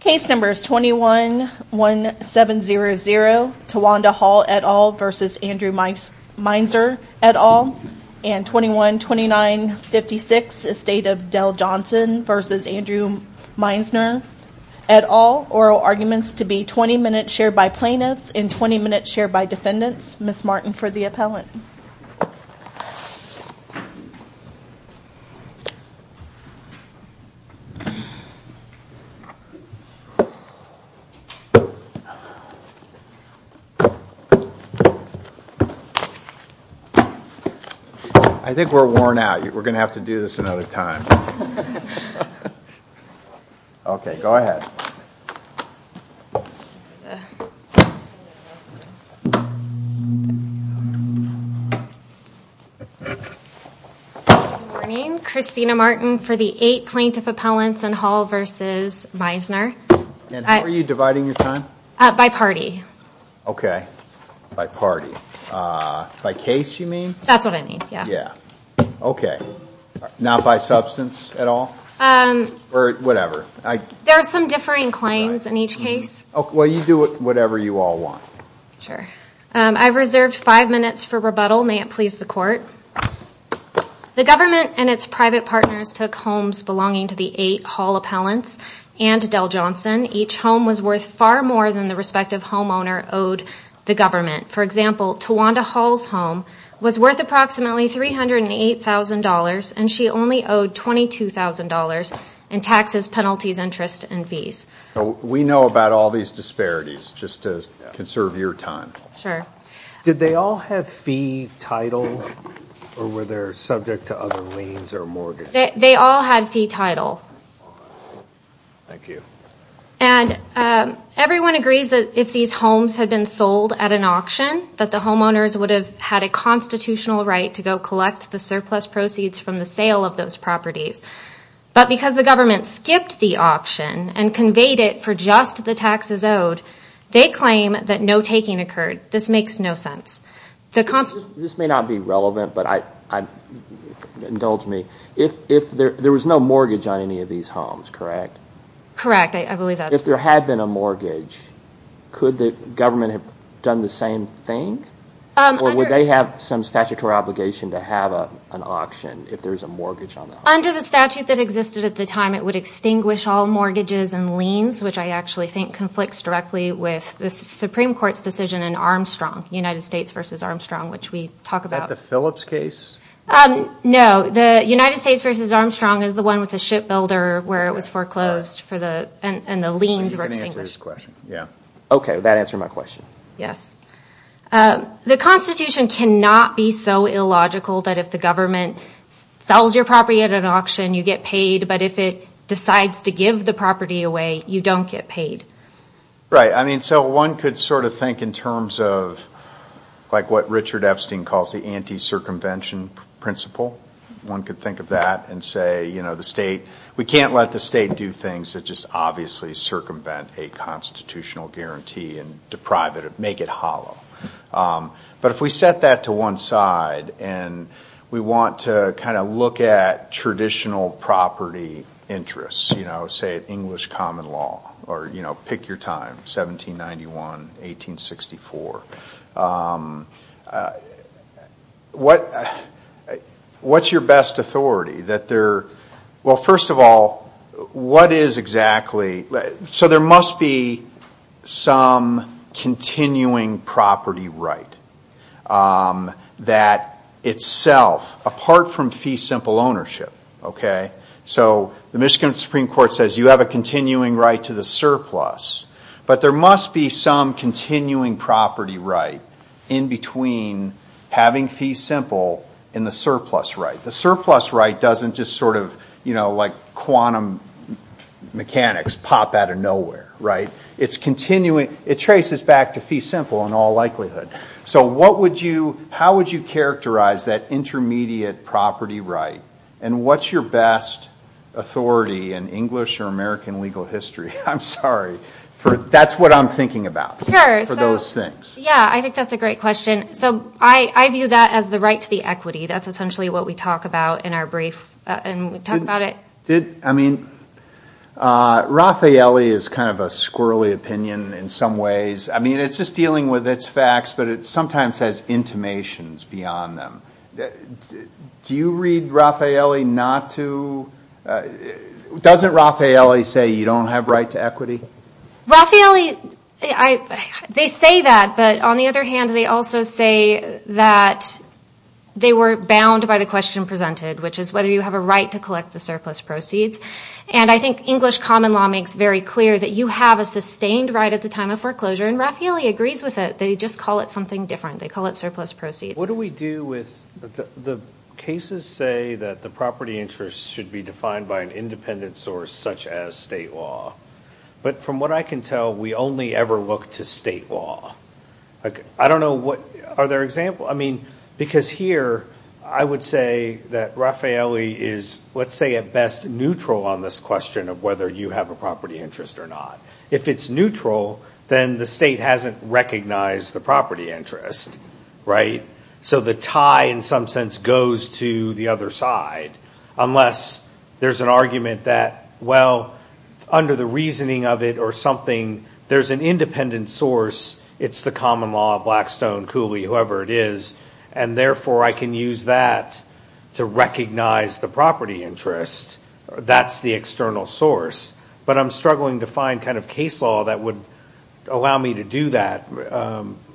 Case number is 21-1700 Tawanda Hall et al. v. Andrew Meisner et al. and 21-2956 Estate of Dell Johnson v. Andrew Meisner et al. Oral arguments to be 20 minutes shared by plaintiffs and 20 minutes shared by defendants. Ms. Martin for the appellant. I think we're worn out. We're going to have to do this another time. Okay, go ahead. Good morning. Christina Martin for the eight plaintiff appellants in Hall v. Meisner. And how are you dividing your time? By party. Okay, by party. By case, you mean? That's what I mean, yeah. Yeah, okay. Not by substance at all? Or whatever? There are some differing claims in each case. Well, you do whatever you all want. Sure. I've reserved five minutes for rebuttal. May it please the court. The government and its private partners took homes belonging to the eight Hall appellants and Dell Johnson. Each home was worth far more than the respective homeowner owed the government. For example, Tawanda Hall's home was worth approximately $308,000, and she only owed $22,000 in taxes, penalties, interest, and fees. We know about all these disparities, just to conserve your time. Sure. Did they all have fee title, or were they subject to other liens or mortgage? They all had fee title. Thank you. And everyone agrees that if these homes had been sold at an auction, that the homeowners would have had a constitutional right to go collect the surplus proceeds from the sale of those properties. But because the government skipped the auction and conveyed it for just the taxes owed, they claim that no taking occurred. This makes no sense. This may not be relevant, but indulge me. There was no mortgage on any of these homes, correct? Correct. I believe that's correct. If there had been a mortgage, could the government have done the same thing, or would they have some statutory obligation to have an auction if there's a mortgage on the home? Under the statute that existed at the time, it would extinguish all mortgages and liens, which I actually think conflicts directly with the Supreme Court's decision in Armstrong, United States v. Armstrong, which we talk about. Is that the Phillips case? No. The United States v. Armstrong is the one with the ship builder where it was foreclosed and the liens were extinguished. Okay, that answered my question. Yes. The Constitution cannot be so illogical that if the government sells your property at an auction, you get paid, but if it decides to give the property away, you don't get paid. Right. One could sort of think in terms of what Richard Epstein calls the anti-circumvention principle. One could think of that and say we can't let the state do things that just obviously circumvent a constitutional guarantee and deprive it, make it hollow. But if we set that to one side and we want to kind of look at traditional property interests, say English common law or pick your time, 1791, 1864, what's your best authority? Well, first of all, there must be some continuing property right that itself, apart from fee simple ownership. So the Michigan Supreme Court says you have a continuing right to the surplus, but there must be some continuing property right in between having fee simple and the surplus right. The surplus right doesn't just sort of like quantum mechanics pop out of nowhere. It traces back to fee simple in all likelihood. So how would you characterize that intermediate property right and what's your best authority in English or American legal history? I'm sorry. That's what I'm thinking about for those things. Yeah, I think that's a great question. So I view that as the right to the equity. That's essentially what we talk about in our brief and we talk about it. Did, I mean, Raffaele is kind of a squirrely opinion in some ways. I mean, it's just dealing with its facts, but it sometimes has intimations beyond them. Do you read Raffaele not to, doesn't Raffaele say you don't have right to equity? Raffaele, they say that, but on the other hand, they also say that they were bound by the question presented, which is whether you have a right to collect the surplus proceeds. And I think English common law makes very clear that you have a sustained right at the time of foreclosure and Raffaele agrees with it. They just call it something different. They call it surplus proceeds. What do we do with, the cases say that the property interest should be defined by an independent source such as state law. But from what I can tell, we only ever look to state law. I don't know what, are there examples? I mean, because here I would say that Raffaele is, let's say at best, neutral on this question of whether you have a property interest or not. If it's neutral, then the state hasn't recognized the property interest. Right? So the tie in some sense goes to the other side, unless there's an argument that, well, under the reasoning of it or something, there's an independent source. It's the common law, Blackstone, Cooley, whoever it is, and therefore I can use that to recognize the property interest. That's the external source. But I'm struggling to find kind of case law that would allow me to do that,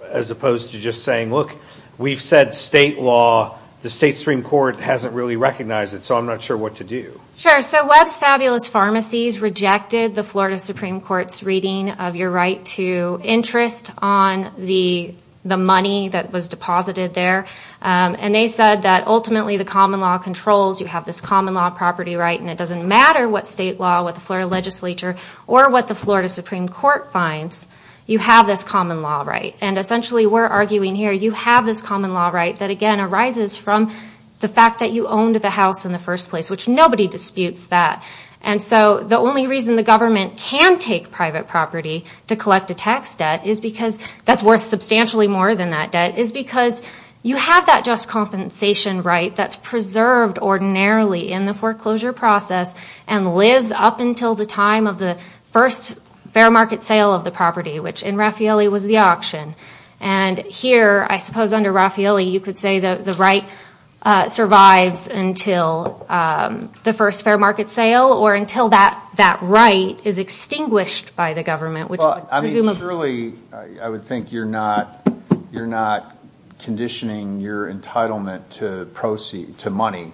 as opposed to just saying, look, we've said state law. The state Supreme Court hasn't really recognized it, so I'm not sure what to do. Sure. So Webb's Fabulous Pharmacies rejected the Florida Supreme Court's reading of your right to interest on the money that was deposited there. And they said that ultimately the common law controls. You have this common law property right, and it doesn't matter what state law, what the Florida legislature, or what the Florida Supreme Court finds. You have this common law right. And essentially we're arguing here, you have this common law right that, again, arises from the fact that you owned the house in the first place, which nobody disputes that. And so the only reason the government can take private property to collect a tax debt is because that's worth substantially more than that debt, is because you have that just compensation right that's preserved ordinarily in the foreclosure process and lives up until the time of the first fair market sale of the property, which in Raffaelli was the auction. And here, I suppose under Raffaelli, you could say that the right survives until the first fair market sale or until that right is extinguished by the government. I mean, surely I would think you're not conditioning your entitlement to money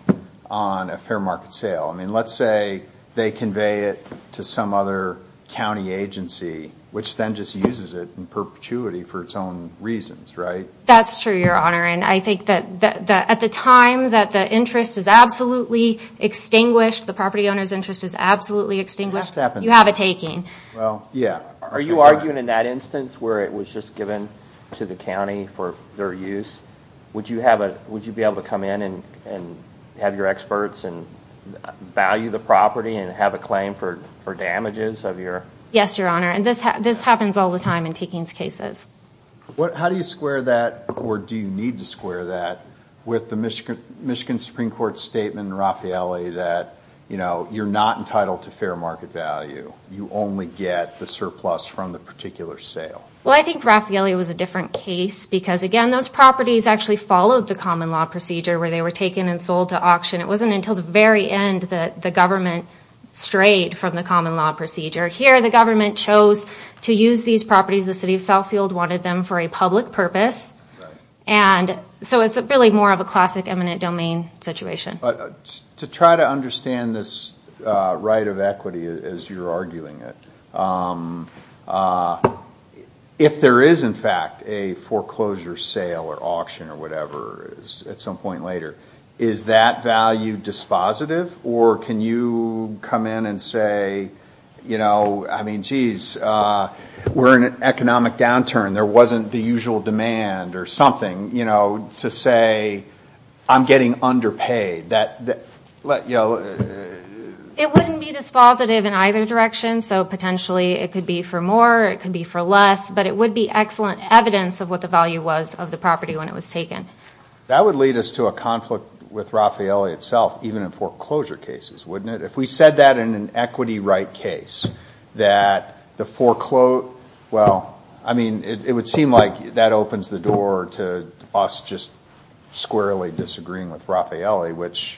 on a fair market sale. I mean, let's say they convey it to some other county agency, which then just uses it in perpetuity for its own reasons, right? That's true, Your Honor. And I think that at the time that the interest is absolutely extinguished, the property owner's interest is absolutely extinguished, you have a taking. Well, yeah. Are you arguing in that instance where it was just given to the county for their use? Would you be able to come in and have your experts value the property and have a claim for damages? Yes, Your Honor. And this happens all the time in takings cases. How do you square that, or do you need to square that, with the Michigan Supreme Court statement in Raffaelli that you're not entitled to fair market value? You only get the surplus from the particular sale. Well, I think Raffaelli was a different case because, again, those properties actually followed the common law procedure where they were taken and sold to auction. It wasn't until the very end that the government strayed from the common law procedure. Here the government chose to use these properties. The city of Southfield wanted them for a public purpose, and so it's really more of a classic eminent domain situation. To try to understand this right of equity as you're arguing it, if there is, in fact, a foreclosure sale or auction or whatever at some point later, is that value dispositive, or can you come in and say, you know, I mean, geez, we're in an economic downturn. There wasn't the usual demand or something, you know, to say I'm getting underpaid. It wouldn't be dispositive in either direction, so potentially it could be for more, it could be for less, but it would be excellent evidence of what the value was of the property when it was taken. That would lead us to a conflict with Raffaelli itself, even in foreclosure cases, wouldn't it? If we said that in an equity right case, that the foreclosure, well, I mean, it would seem like that opens the door to us just squarely disagreeing with Raffaelli, which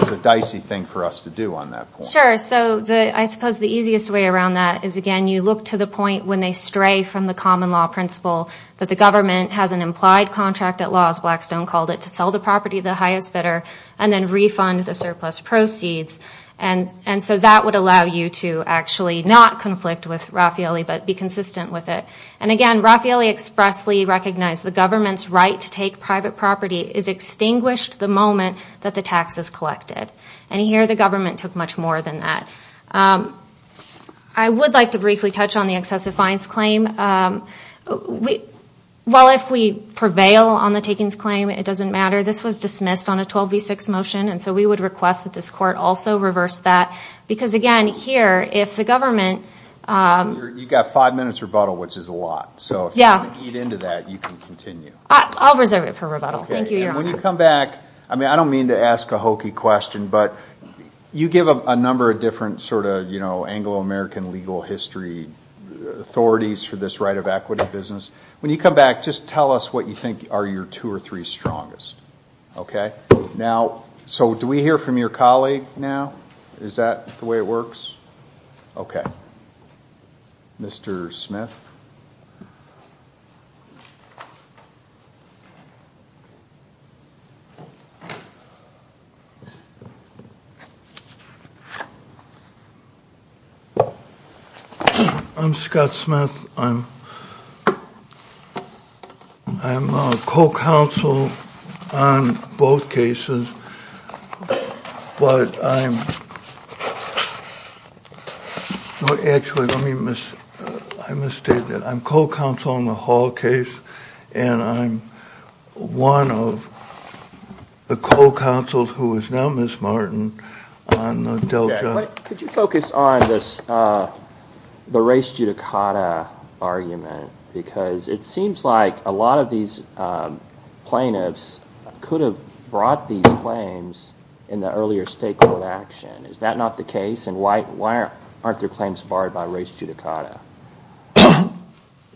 is a dicey thing for us to do on that point. Sure. So I suppose the easiest way around that is, again, you look to the point when they stray from the common law principle that the government has an implied contract at law, as Blackstone called it, to sell the property to the highest bidder and then refund the surplus proceeds. And so that would allow you to actually not conflict with Raffaelli but be consistent with it. And again, Raffaelli expressly recognized the government's right to take private property is extinguished the moment that the tax is collected. And here the government took much more than that. I would like to briefly touch on the excessive fines claim. Well, if we prevail on the takings claim, it doesn't matter. This was dismissed on a 12B6 motion, and so we would request that this court also reverse that. Because, again, here, if the government— You've got five minutes rebuttal, which is a lot. Yeah. So if you want to eat into that, you can continue. I'll reserve it for rebuttal. Thank you, Your Honor. And when you come back, I mean, I don't mean to ask a hokey question, but you give a number of different sort of Anglo-American legal history authorities for this right of equity business. When you come back, just tell us what you think are your two or three strongest. Okay? Now, so do we hear from your colleague now? Is that the way it works? Okay. Mr. Smith? I'm Scott Smith. I'm a co-counsel on both cases, but I'm—actually, let me misstate that. I'm co-counsel on the Hall case, and I'm one of the co-counsels who is now Ms. Martin on the Dell job. Could you focus on the race judicata argument? Because it seems like a lot of these plaintiffs could have brought these claims in the earlier stakeholder action. Is that not the case? And why aren't their claims barred by race judicata?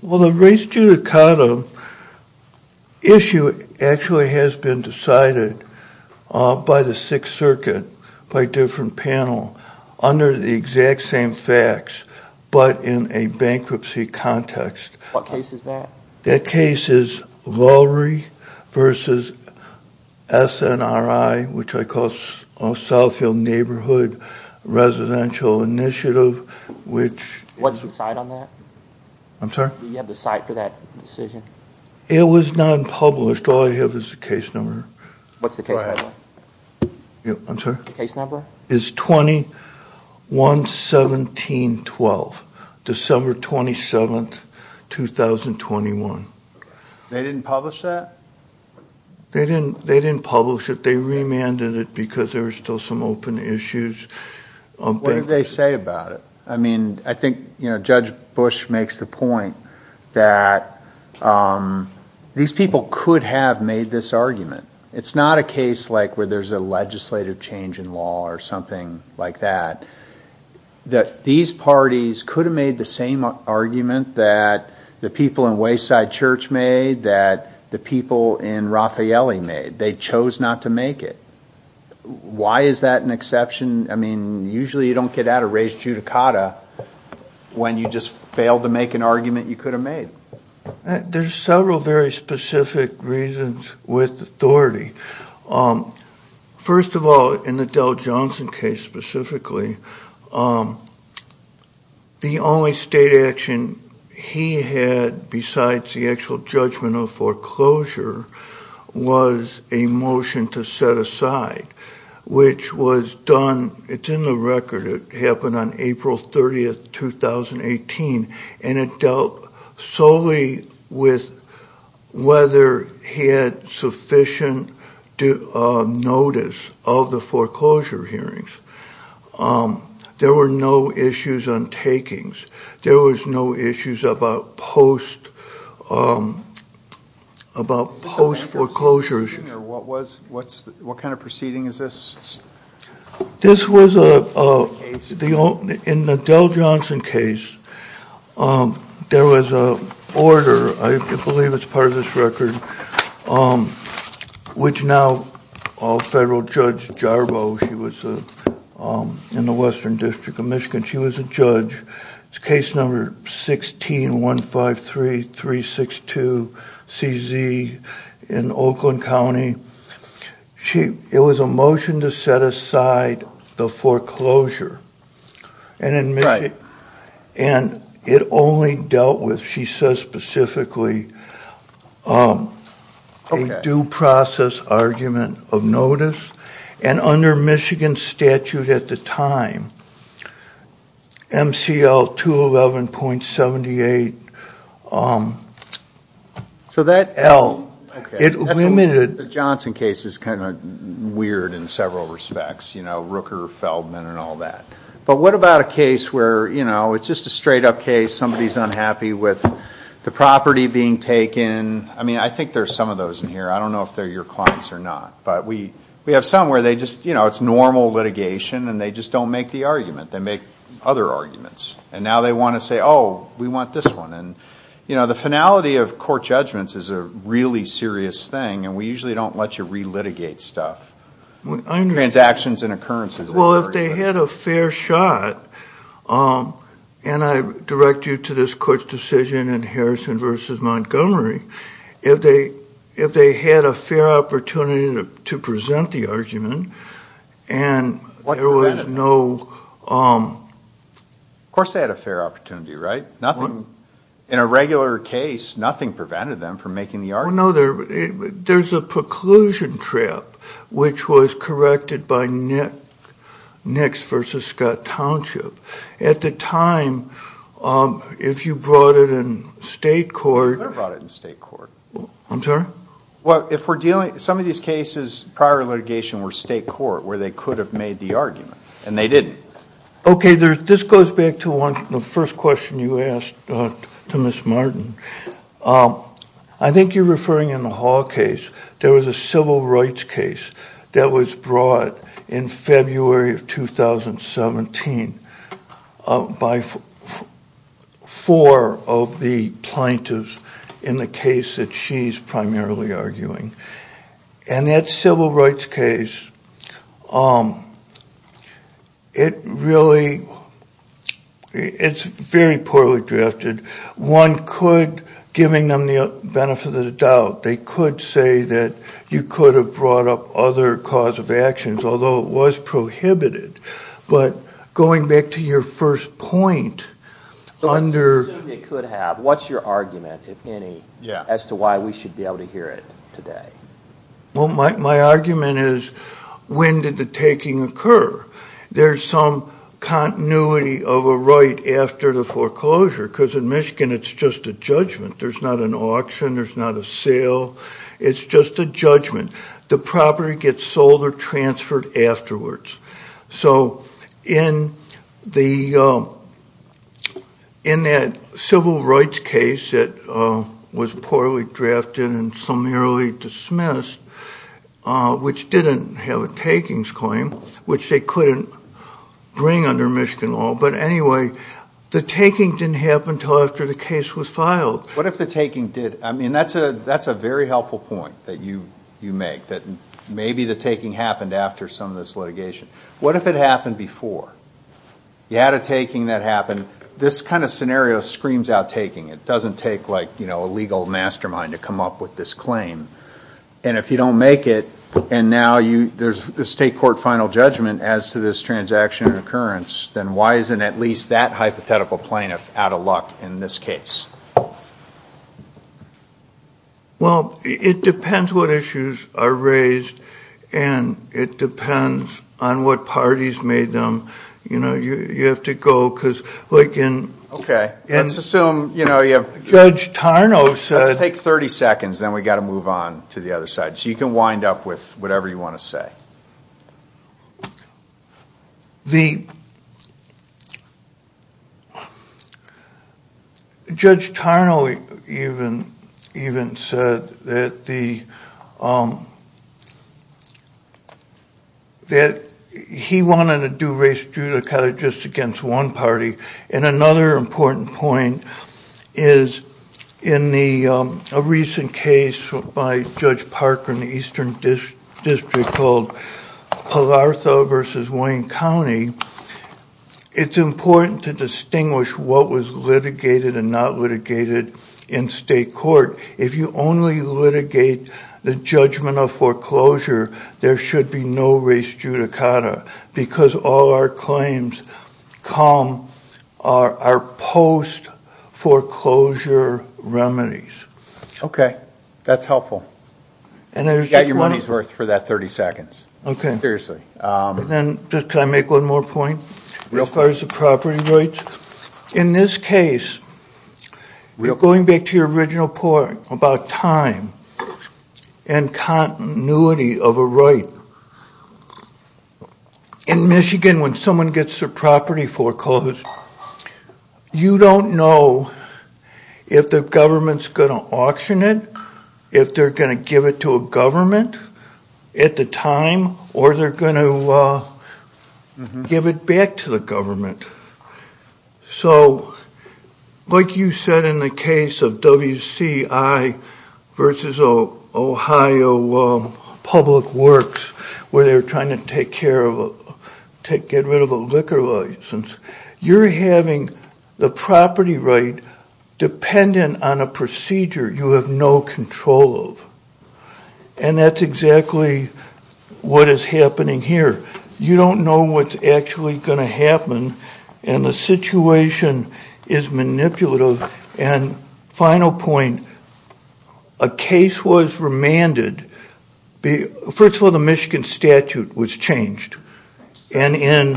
Well, the race judicata issue actually has been decided by the Sixth Circuit by a different panel under the exact same facts, but in a bankruptcy context. What case is that? That case is Lowry v. SNRI, which I call Southfield Neighborhood Residential Initiative, which— What's the site on that? I'm sorry? Do you have the site for that decision? It was not published. All I have is the case number. What's the case number? I'm sorry? The case number? Is 21-17-12, December 27, 2021. They didn't publish that? They didn't publish it. They remanded it because there were still some open issues. What did they say about it? I mean, I think Judge Bush makes the point that these people could have made this argument. It's not a case like where there's a legislative change in law or something like that, that these parties could have made the same argument that the people in Wayside Church made, that the people in Raffaelli made. They chose not to make it. Why is that an exception? I mean, usually you don't get out of race judicata when you just fail to make an argument you could have made. There's several very specific reasons with authority. First of all, in the Dell Johnson case specifically, the only state action he had besides the actual judgment of foreclosure was a motion to set aside, which was done, it's in the record, it happened on April 30, 2018, and it dealt solely with whether he had sufficient notice of the foreclosure hearings. There were no issues on takings. There was no issues about post-foreclosure issues. What kind of proceeding is this? This was in the Dell Johnson case. There was an order, I believe it's part of this record, which now Federal Judge Jarbo, she was in the Western District of Michigan, she was a judge. It's case number 16153362CZ in Oakland County. It was a motion to set aside the foreclosure. And it only dealt with, she says specifically, a due process argument of notice. And under Michigan statute at the time, MCL 211.78L, The Johnson case is kind of weird in several respects, you know, Rooker, Feldman and all that. But what about a case where, you know, it's just a straight up case, somebody's unhappy with the property being taken. I mean, I think there's some of those in here. I don't know if they're your clients or not, but we have some where they just, you know, it's normal litigation and they just don't make the argument. They make other arguments. And now they want to say, oh, we want this one. And, you know, the finality of court judgments is a really serious thing. And we usually don't let you re-litigate stuff. Transactions and occurrences. Well, if they had a fair shot, and I direct you to this court's decision in Harrison v. Montgomery, if they had a fair opportunity to present the argument and there was no... Of course they had a fair opportunity, right? In a regular case, nothing prevented them from making the argument. Well, no, there's a preclusion trap, which was corrected by Nix v. Scott Township. At the time, if you brought it in state court... I never brought it in state court. I'm sorry? Well, if we're dealing... Some of these cases prior to litigation were state court, where they could have made the argument. And they didn't. Okay, this goes back to the first question you asked to Ms. Martin. I think you're referring in the Hall case. There was a civil rights case that was brought in February of 2017 by four of the plaintiffs in the case that she's primarily arguing. And that civil rights case, it really, it's very poorly drafted. One could, giving them the benefit of the doubt, they could say that you could have brought up other cause of actions, although it was prohibited. But going back to your first point, under... Well, my argument is, when did the taking occur? There's some continuity of a right after the foreclosure, because in Michigan, it's just a judgment. There's not an auction. There's not a sale. It's just a judgment. The property gets sold or transferred afterwards. So in that civil rights case that was poorly drafted and summarily dismissed, which didn't have a takings claim, which they couldn't bring under Michigan law, but anyway, the taking didn't happen until after the case was filed. What if the taking did? I mean, that's a very helpful point that you make, that maybe the taking happened after some of this litigation. What if it happened before? You had a taking that happened. This kind of scenario screams out taking. It doesn't take a legal mastermind to come up with this claim. And if you don't make it, and now there's a state court final judgment as to this transaction occurrence, then why isn't at least that hypothetical plaintiff out of luck in this case? Well, it depends what issues are raised, and it depends on what parties made them. You know, you have to go, because like in... Okay, let's assume, you know, you have... Judge Tarnow said... Let's take 30 seconds, then we've got to move on to the other side. So you can wind up with whatever you want to say. The... Judge Tarnow even said that the... that he wanted to do race judicata just against one party. And another important point is in a recent case by Judge Parker in the Eastern District called Pallartha v. Wayne County, it's important to distinguish what was litigated and not litigated in state court. If you only litigate the judgment of foreclosure, there should be no race judicata, because all our claims come, are our post-foreclosure remedies. Okay, that's helpful. And there's just one... You've got your money's worth for that 30 seconds. Okay. Seriously. Then, just can I make one more point? Real quick. As far as the property rights, in this case, going back to your original point about time and continuity of a right, in Michigan, when someone gets their property foreclosed, you don't know if the government's going to auction it, if they're going to give it to a government at the time, or they're going to give it back to the government. So, like you said in the case of WCI versus Ohio Public Works, where they're trying to get rid of a liquor license, you're having the property right dependent on a procedure you have no control of. And that's exactly what is happening here. You don't know what's actually going to happen, and the situation is manipulative. And final point, a case was remanded. First of all, the Michigan statute was changed. And in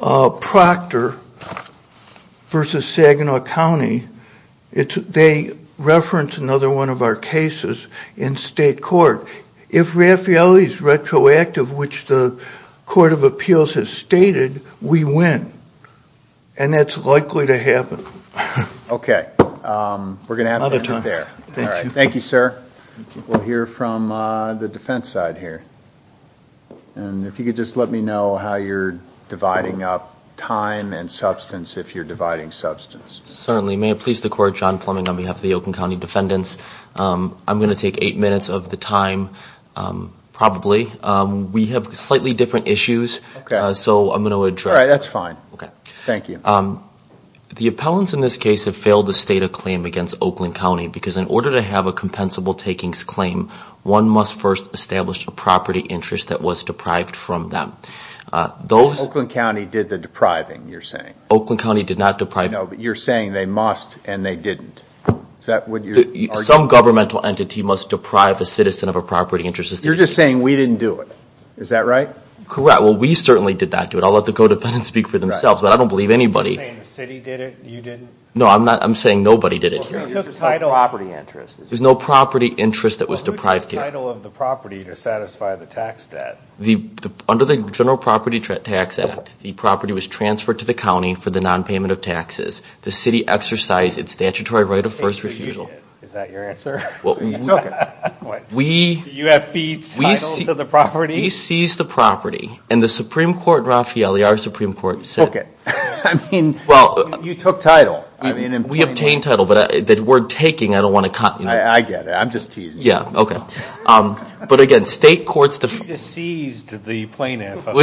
Proctor versus Saginaw County, they referenced another one of our cases in state court. If Raffaelli's retroactive, which the Court of Appeals has stated, we win. And that's likely to happen. Okay. We're going to have to end there. Thank you. Thank you, sir. We'll hear from the defense side here. And if you could just let me know how you're dividing up time and substance, if you're dividing substance. Certainly. May it please the Court, John Plumbing on behalf of the Oakland County Defendants. I'm going to take eight minutes of the time, probably. We have slightly different issues, so I'm going to address. All right, that's fine. Okay. Thank you. The appellants in this case have failed to state a claim against Oakland County, because in order to have a compensable takings claim, one must first establish a property interest that was deprived from them. Oakland County did the depriving, you're saying. Oakland County did not deprive. No, but you're saying they must and they didn't. Some governmental entity must deprive a citizen of a property interest. You're just saying we didn't do it. Is that right? Correct. Well, we certainly did not do it. I'll let the codependents speak for themselves, but I don't believe anybody. You're saying the city did it and you didn't? No, I'm saying nobody did it. There's no property interest that was deprived here. Who took the title of the property to satisfy the tax debt? The city exercised its statutory right of first refusal. Is that your answer? You took it. What? The UFE's title to the property? We seized the property, and the Supreme Court, Raffaele, our Supreme Court said. Okay. I mean, you took title. We obtained title, but the word taking, I don't want to con you. I get it. I'm just teasing. Yeah, okay. But again, state courts. You just seized the plaintiff. The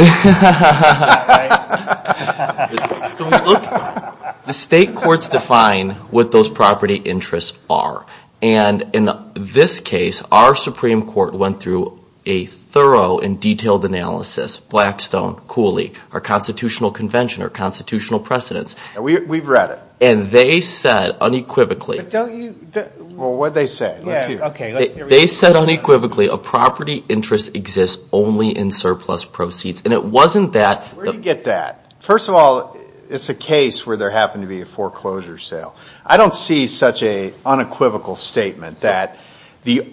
state courts define what those property interests are, and in this case, our Supreme Court went through a thorough and detailed analysis, Blackstone, Cooley, our constitutional convention, our constitutional precedents. We've read it. And they said unequivocally. Well, what did they say? They said unequivocally a property interest exists only in surplus proceeds Where do you get that? First of all, it's a case where there happened to be a foreclosure sale. I don't see such an unequivocal statement that the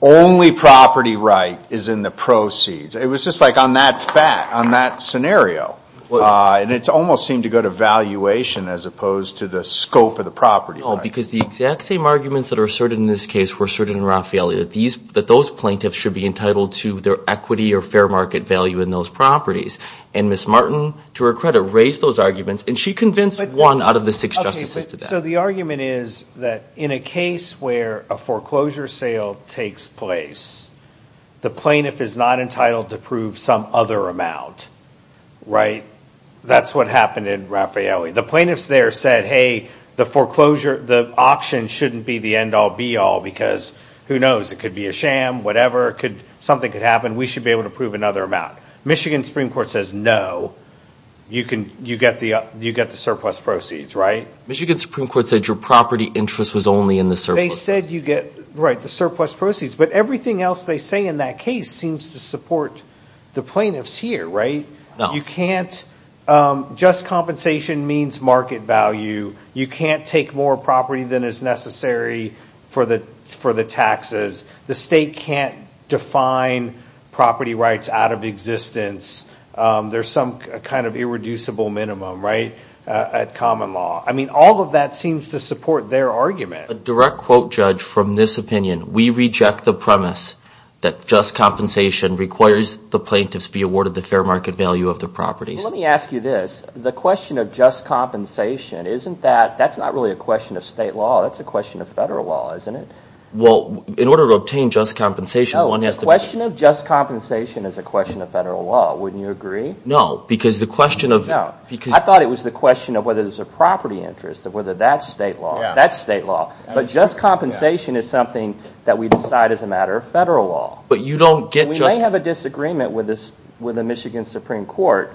only property right is in the proceeds. It was just like on that fact, on that scenario. And it almost seemed to go to valuation as opposed to the scope of the property right. No, because the exact same arguments that are asserted in this case were asserted in Raffaele, that those plaintiffs should be entitled to their equity or fair market value in those properties. And Ms. Martin, to her credit, raised those arguments, and she convinced one out of the six justices to that. So the argument is that in a case where a foreclosure sale takes place, the plaintiff is not entitled to prove some other amount, right? That's what happened in Raffaele. The plaintiffs there said, hey, the auction shouldn't be the end-all, be-all, because who knows, it could be a sham, whatever, something could happen. We should be able to prove another amount. Michigan Supreme Court says no. You get the surplus proceeds, right? Michigan Supreme Court said your property interest was only in the surplus. They said you get the surplus proceeds. But everything else they say in that case seems to support the plaintiffs here, right? No. You can't just compensation means market value. You can't take more property than is necessary for the taxes. The state can't define property rights out of existence. There's some kind of irreducible minimum, right, at common law. I mean, all of that seems to support their argument. A direct quote, Judge, from this opinion, we reject the premise that just compensation requires the plaintiffs be awarded the fair market value of their properties. Let me ask you this. The question of just compensation, isn't that – that's not really a question of state law. That's a question of federal law, isn't it? Well, in order to obtain just compensation, one has to – No, the question of just compensation is a question of federal law. Wouldn't you agree? No, because the question of – No. I thought it was the question of whether there's a property interest, of whether that's state law. That's state law. But just compensation is something that we decide as a matter of federal law. But you don't get just – We may have a disagreement with the Michigan Supreme Court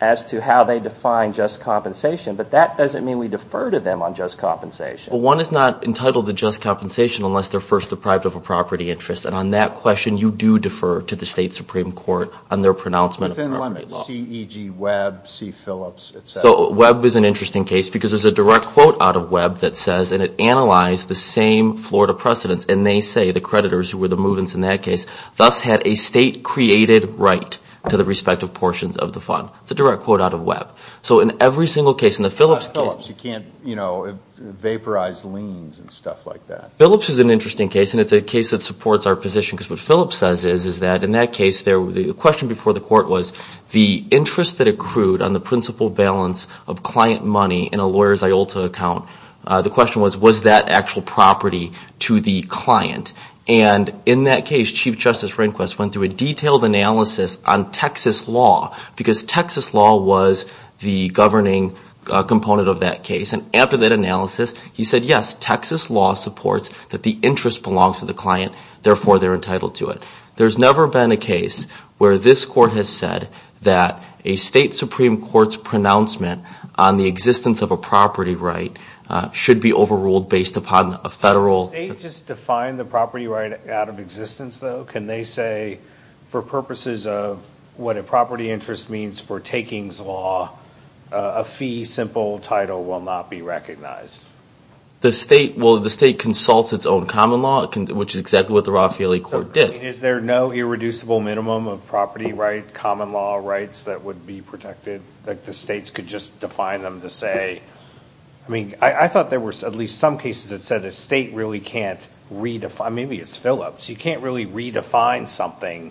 as to how they define just compensation. But that doesn't mean we defer to them on just compensation. Well, one is not entitled to just compensation unless they're first deprived of a property interest. And on that question, you do defer to the state Supreme Court on their pronouncement of property law. Within limits, C.E.G. Webb, C. Phillips, et cetera. So Webb is an interesting case because there's a direct quote out of Webb that says – and it analyzed the same Florida precedents. And they say the creditors, who were the movements in that case, thus had a state-created right to the respective portions of the fund. It's a direct quote out of Webb. So in every single case – You can't, you know, vaporize liens and stuff like that. Phillips is an interesting case, and it's a case that supports our position. Because what Phillips says is, is that in that case, the question before the court was, the interest that accrued on the principal balance of client money in a lawyer's IOLTA account, the question was, was that actual property to the client? And in that case, Chief Justice Rehnquist went through a detailed analysis on Texas law. Because Texas law was the governing component of that case. And after that analysis, he said, yes, Texas law supports that the interest belongs to the client. Therefore, they're entitled to it. There's never been a case where this court has said that a state Supreme Court's pronouncement on the existence of a property right should be overruled based upon a federal – Does the state just define the property right out of existence, though? Can they say, for purposes of what a property interest means for takings law, a fee, simple title, will not be recognized? The state – well, the state consults its own common law, which is exactly what the Raffaelli Court did. Is there no irreducible minimum of property right, common law rights that would be protected? Like the states could just define them to say – I mean, I thought there were at least some cases that said a state really can't redefine – maybe it's Phillips – you can't really redefine something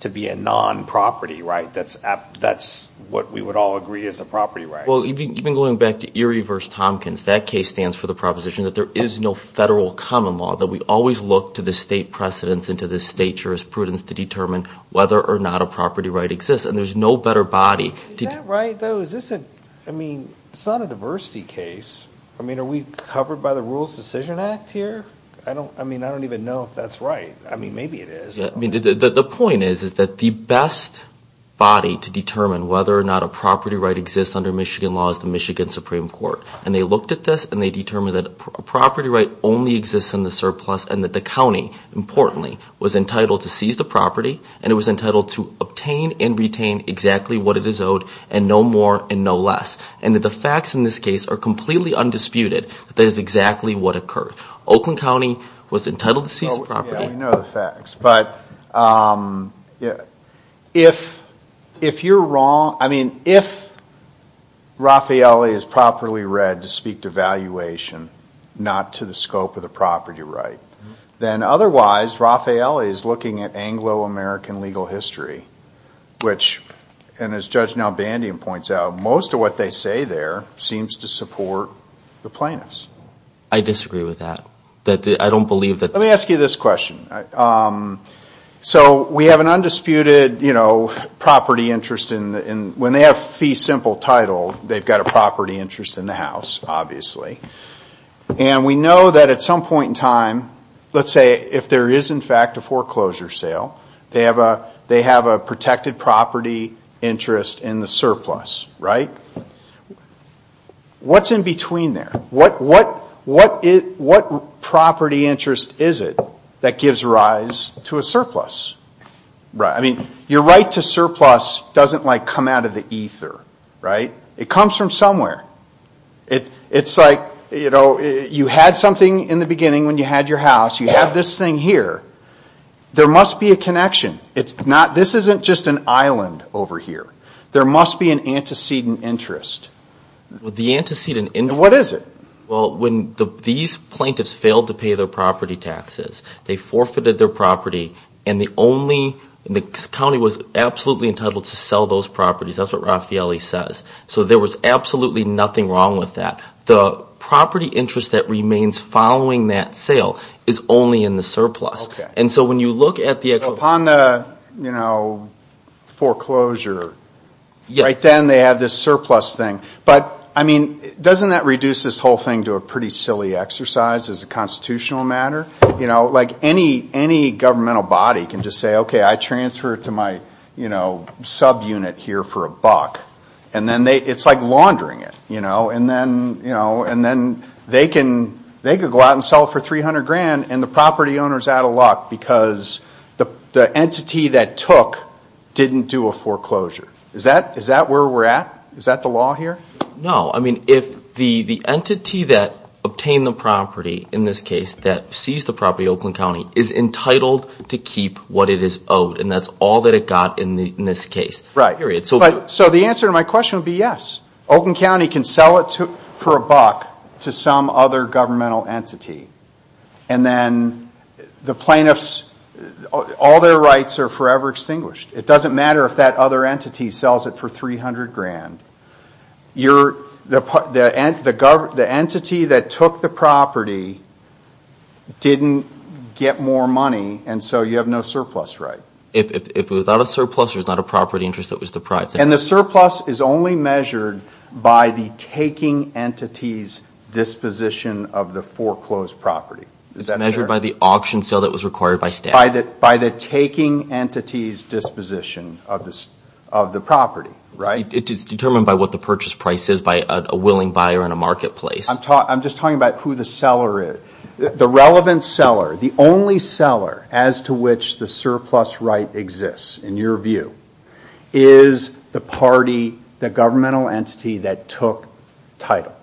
to be a non-property right. That's what we would all agree is a property right. Well, even going back to Erie v. Tompkins, that case stands for the proposition that there is no federal common law, that we always look to the state precedents and to the state jurisprudence to determine whether or not a property right exists. And there's no better body. Is that right, though? Is this a – I mean, it's not a diversity case. I mean, are we covered by the Rules Decision Act here? I mean, I don't even know if that's right. I mean, maybe it is. The point is that the best body to determine whether or not a property right exists under Michigan law is the Michigan Supreme Court. And they looked at this, and they determined that a property right only exists in the surplus and that the county, importantly, was entitled to seize the property, and it was entitled to obtain and retain exactly what it is owed and no more and no less, and that the facts in this case are completely undisputed that that is exactly what occurred. Oakland County was entitled to seize the property. But if you're wrong – I mean, if Raffaele is properly read to speak to valuation, not to the scope of the property right, then otherwise Raffaele is looking at Anglo-American legal history, which – and as Judge Nalbandian points out, most of what they say there seems to support the plaintiffs. I disagree with that. I don't believe that – Let me ask you this question. So we have an undisputed property interest in – when they have fee simple title, they've got a property interest in the house, obviously. And we know that at some point in time, let's say if there is in fact a foreclosure sale, they have a protected property interest in the surplus, right? What's in between there? What property interest is it that gives rise to a surplus? I mean, your right to surplus doesn't, like, come out of the ether, right? It comes from somewhere. It's like, you know, you had something in the beginning when you had your house. You have this thing here. There must be a connection. This isn't just an island over here. There must be an antecedent interest. What is it? Well, when these plaintiffs failed to pay their property taxes, they forfeited their property, and the county was absolutely entitled to sell those properties. That's what Raffaele says. So there was absolutely nothing wrong with that. The property interest that remains following that sale is only in the surplus. So upon the foreclosure, right then they have this surplus thing. But, I mean, doesn't that reduce this whole thing to a pretty silly exercise as a constitutional matter? Like, any governmental body can just say, okay, I transfer it to my subunit here for a buck. And then it's like laundering it. And then they can go out and sell it for $300,000, and the property owner is out of luck because the entity that took didn't do a foreclosure. Is that where we're at? Is that the law here? No. I mean, if the entity that obtained the property, in this case, that seized the property, Oakland County, is entitled to keep what it is owed, and that's all that it got in this case. Right. So the answer to my question would be yes. Oakland County can sell it for a buck to some other governmental entity. And then the plaintiffs, all their rights are forever extinguished. It doesn't matter if that other entity sells it for $300,000. The entity that took the property didn't get more money, and so you have no surplus right. If it was not a surplus, it was not a property interest that was deprived. And the surplus is only measured by the taking entity's disposition of the foreclosed property. It's measured by the auction sale that was required by statute. By the taking entity's disposition of the property, right? It's determined by what the purchase price is by a willing buyer in a marketplace. I'm just talking about who the seller is. The relevant seller, the only seller as to which the surplus right exists, in your view, is the party, the governmental entity that took title.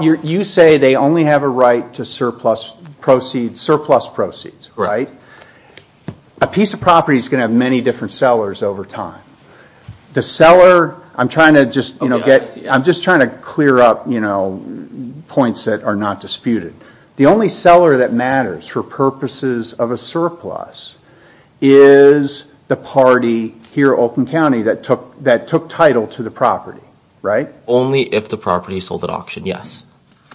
You say they only have a right to surplus proceeds, right? A piece of property is going to have many different sellers over time. The seller, I'm just trying to clear up points that are not disputed. The only seller that matters for purposes of a surplus is the party here at Oakland County that took title to the property, right? Only if the property is sold at auction, yes.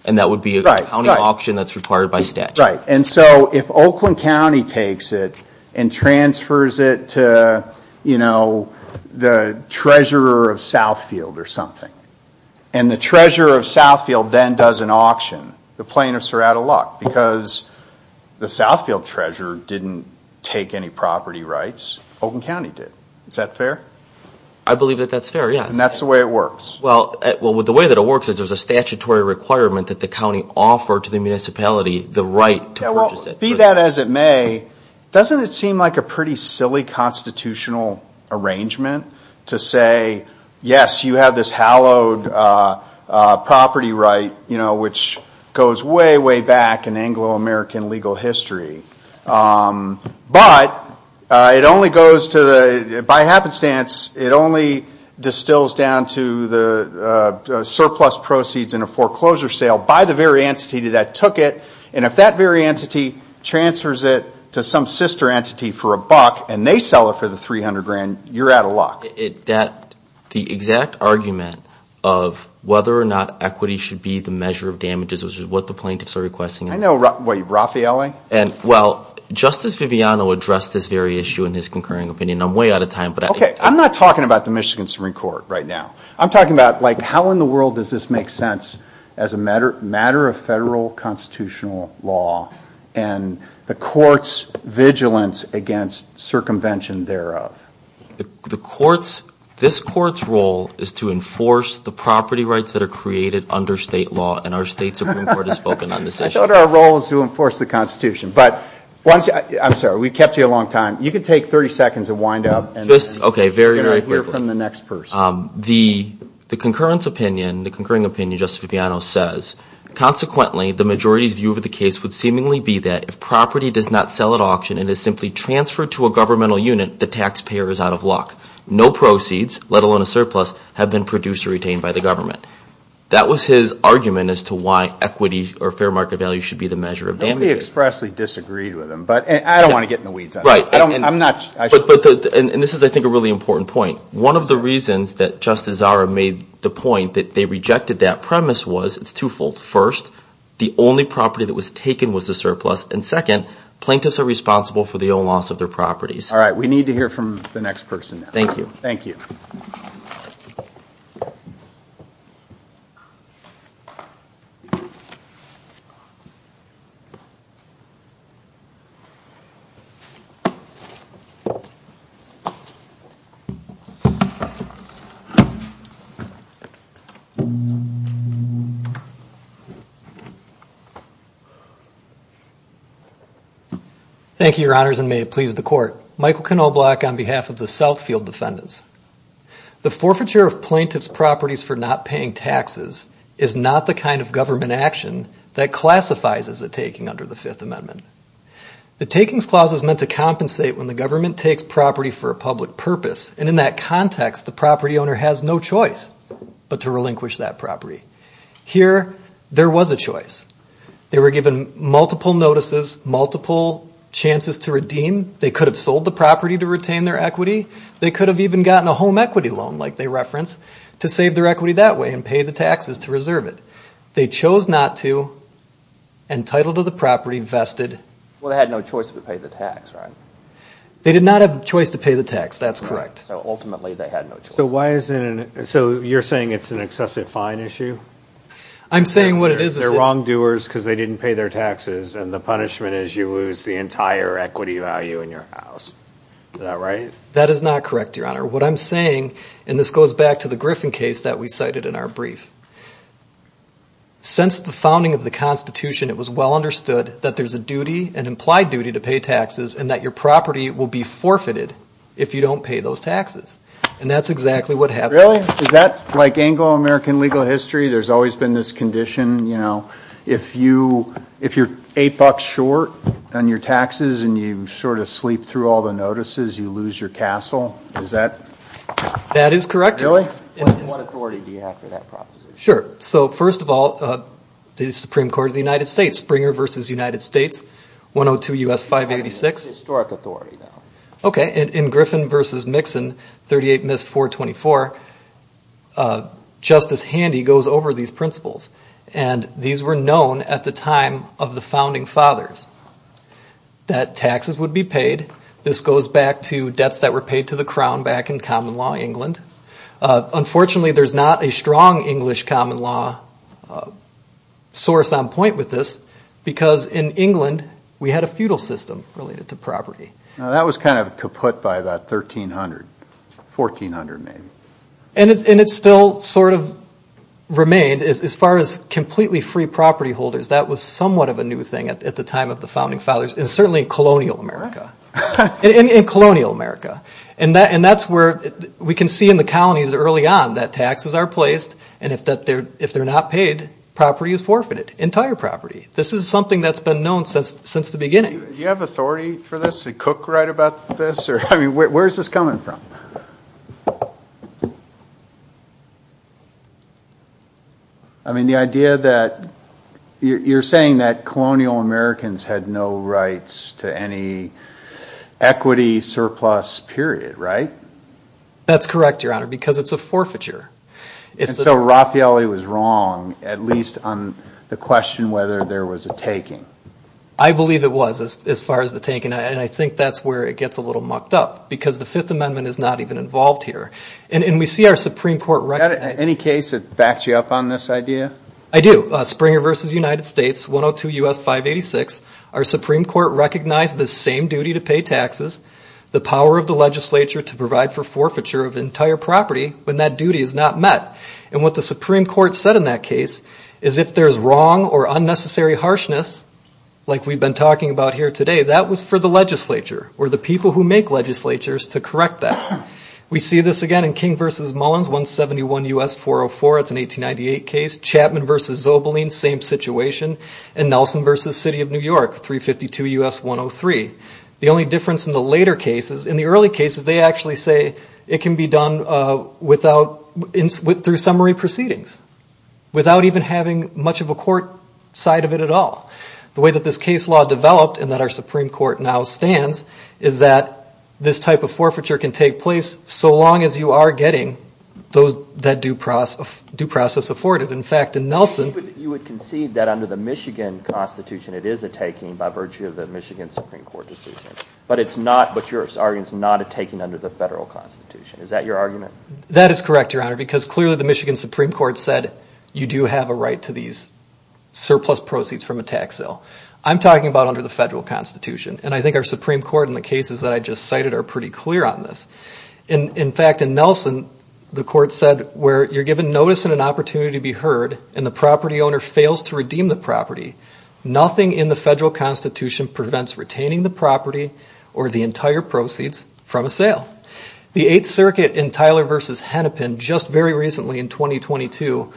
And that would be a county auction that's required by statute. Right, and so if Oakland County takes it and transfers it to the treasurer of Southfield or something, and the treasurer of Southfield then does an auction, the plaintiffs are out of luck because the Southfield treasurer didn't take any property rights, Oakland County did. Is that fair? I believe that that's fair, yes. And that's the way it works? Well, the way that it works is there's a statutory requirement that the county offer to the municipality the right to purchase it. Well, be that as it may, doesn't it seem like a pretty silly constitutional arrangement to say, yes, you have this hallowed property right, you know, which goes way, way back in Anglo-American legal history. But it only goes to the, by happenstance, it only distills down to the surplus proceeds in a foreclosure sale by the very entity that took it, and if that very entity transfers it to some sister entity for a buck and they sell it for the 300 grand, you're out of luck. The exact argument of whether or not equity should be the measure of damages, which is what the plaintiffs are requesting. I know, what, Raffaele? Well, Justice Viviano addressed this very issue in his concurring opinion. I'm way out of time. Okay, I'm not talking about the Michigan Supreme Court right now. I'm talking about, like, how in the world does this make sense as a matter of federal constitutional law and the court's vigilance against circumvention thereof? The court's, this court's role is to enforce the property rights that are created under state law, and our state Supreme Court has spoken on this issue. I thought our role was to enforce the Constitution. But once, I'm sorry, we kept you a long time. You can take 30 seconds and wind up. Okay, very briefly. The concurrence opinion, the concurring opinion, Justice Viviano says, consequently, the majority's view of the case would seemingly be that if property does not sell at auction and is simply transferred to a governmental unit, the taxpayer is out of luck. No proceeds, let alone a surplus, have been produced or retained by the government. That was his argument as to why equity or fair market value should be the measure of damages. Nobody expressly disagreed with him, but I don't want to get in the weeds on that. Right. And this is, I think, a really important point. One of the reasons that Justice Zara made the point that they rejected that premise was, it's twofold. First, the only property that was taken was the surplus, and second, plaintiffs are responsible for the own loss of their properties. All right, we need to hear from the next person now. Thank you. Thank you. Thank you. Thank you, Your Honors, and may it please the Court. Michael Knobloch on behalf of the Southfield Defendants. The forfeiture of plaintiff's properties for not paying taxes is not the kind of government action that classifies as a taking under the Fifth Amendment. The takings clause is meant to compensate when the government takes property for a public purpose, and in that context, the property owner has no choice but to relinquish that property. Here, there was a choice. They were given multiple notices, multiple chances to redeem. They could have sold the property to retain their equity. They could have even gotten a home equity loan, like they referenced, to save their equity that way and pay the taxes to reserve it. They chose not to and title to the property vested. Well, they had no choice but to pay the tax, right? They did not have a choice to pay the tax. That's correct. So ultimately, they had no choice. So you're saying it's an excessive fine issue? I'm saying what it is. They're wrongdoers because they didn't pay their taxes, and the punishment is you lose the entire equity value in your house. Is that right? That is not correct, Your Honor. What I'm saying, and this goes back to the Griffin case that we cited in our brief, since the founding of the Constitution, it was well understood that there's a duty, an implied duty, to pay taxes and that your property will be forfeited if you don't pay those taxes. And that's exactly what happened. Really? Is that like Anglo-American legal history? There's always been this condition, you know, if you're $8 short on your taxes and you sort of sleep through all the notices, you lose your castle? Is that? That is correct. Really? What authority do you have for that proposition? Sure. So first of all, the Supreme Court of the United States, Springer v. United States, 102 U.S. 586. Historic authority, though. Okay. In Griffin v. Mixon, 38 Miss 424, Justice Handy goes over these principles, and these were known at the time of the founding fathers that taxes would be paid. This goes back to debts that were paid to the crown back in common law England. Unfortunately, there's not a strong English common law source on point with this because in England we had a feudal system related to property. Now that was kind of kaput by about 1300, 1400 maybe. And it still sort of remained. As far as completely free property holders, that was somewhat of a new thing at the time of the founding fathers and certainly in colonial America. And that's where we can see in the colonies early on that taxes are placed, and if they're not paid, property is forfeited, entire property. This is something that's been known since the beginning. Do you have authority for this? Did Cook write about this? I mean, where is this coming from? I mean, the idea that you're saying that colonial Americans had no rights to any equity surplus period, right? That's correct, Your Honor, because it's a forfeiture. And so Raffaelli was wrong, at least on the question whether there was a taking. I believe it was as far as the taking, and I think that's where it gets a little mucked up because the Fifth Amendment is not even involved here. And we see our Supreme Court recognize it. Do you have any case that backs you up on this idea? I do. Springer v. United States, 102 U.S. 586. Our Supreme Court recognized the same duty to pay taxes, the power of the legislature to provide for forfeiture of entire property when that duty is not met. And what the Supreme Court said in that case is if there's wrong or unnecessary harshness, like we've been talking about here today, that was for the legislature or the people who make legislatures to correct that. We see this again in King v. Mullins, 171 U.S. 404. It's an 1898 case. Chapman v. Zobelin, same situation. And Nelson v. City of New York, 352 U.S. 103. The only difference in the later cases, in the early cases, they actually say it can be done through summary proceedings without even having much of a court side of it at all. The way that this case law developed and that our Supreme Court now stands is that this type of forfeiture can take place so long as you are getting that due process afforded. In fact, in Nelson you would concede that under the Michigan Constitution it is a taking by virtue of the Michigan Supreme Court decision, but your argument is not a taking under the federal Constitution. Is that your argument? That is correct, Your Honor, because clearly the Michigan Supreme Court said that you do have a right to these surplus proceeds from a tax sale. I'm talking about under the federal Constitution, and I think our Supreme Court in the cases that I just cited are pretty clear on this. In fact, in Nelson the court said, where you're given notice and an opportunity to be heard and the property owner fails to redeem the property, nothing in the federal Constitution prevents retaining the property or the entire proceeds from a sale. The Eighth Circuit in Tyler v. Hennepin just very recently in 2022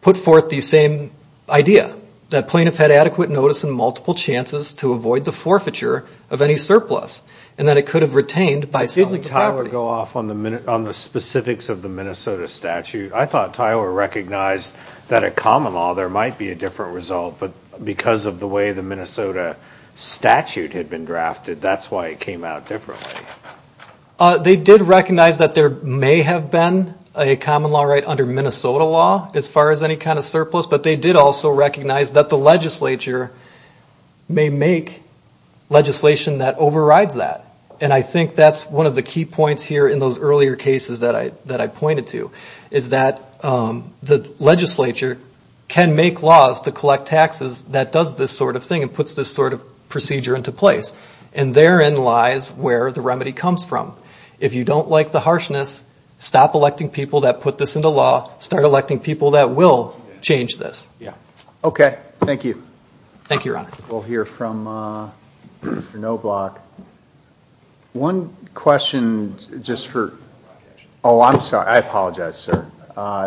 put forth the same idea, that plaintiffs had adequate notice and multiple chances to avoid the forfeiture of any surplus, and that it could have retained by selling the property. Did Tyler go off on the specifics of the Minnesota statute? I thought Tyler recognized that at common law there might be a different result, but because of the way the Minnesota statute had been drafted, that's why it came out differently. They did recognize that there may have been a common law right under Minnesota law, as far as any kind of surplus, but they did also recognize that the legislature may make legislation that overrides that. And I think that's one of the key points here in those earlier cases that I pointed to, is that the legislature can make laws to collect taxes that does this sort of thing and puts this sort of procedure into place. And therein lies where the remedy comes from. If you don't like the harshness, stop electing people that put this into law, start electing people that will change this. Okay. Thank you. Thank you, Your Honor. We'll hear from Mr. Knobloch. One question just for... Oh, I'm sorry. I apologize, sir.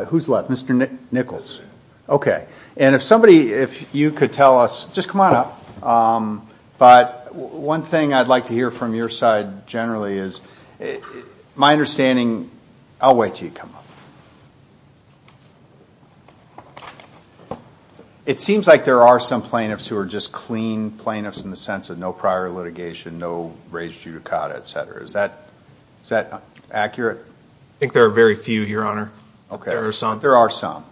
Who's left? Mr. Nichols. Okay. And if somebody, if you could tell us... Just come on up. But one thing I'd like to hear from your side generally is my understanding... I'll wait until you come up. It seems like there are some plaintiffs who are just clean plaintiffs in the sense of no prior litigation, no raised judicata, et cetera. Is that accurate? I think there are very few, Your Honor. There are some. There are some.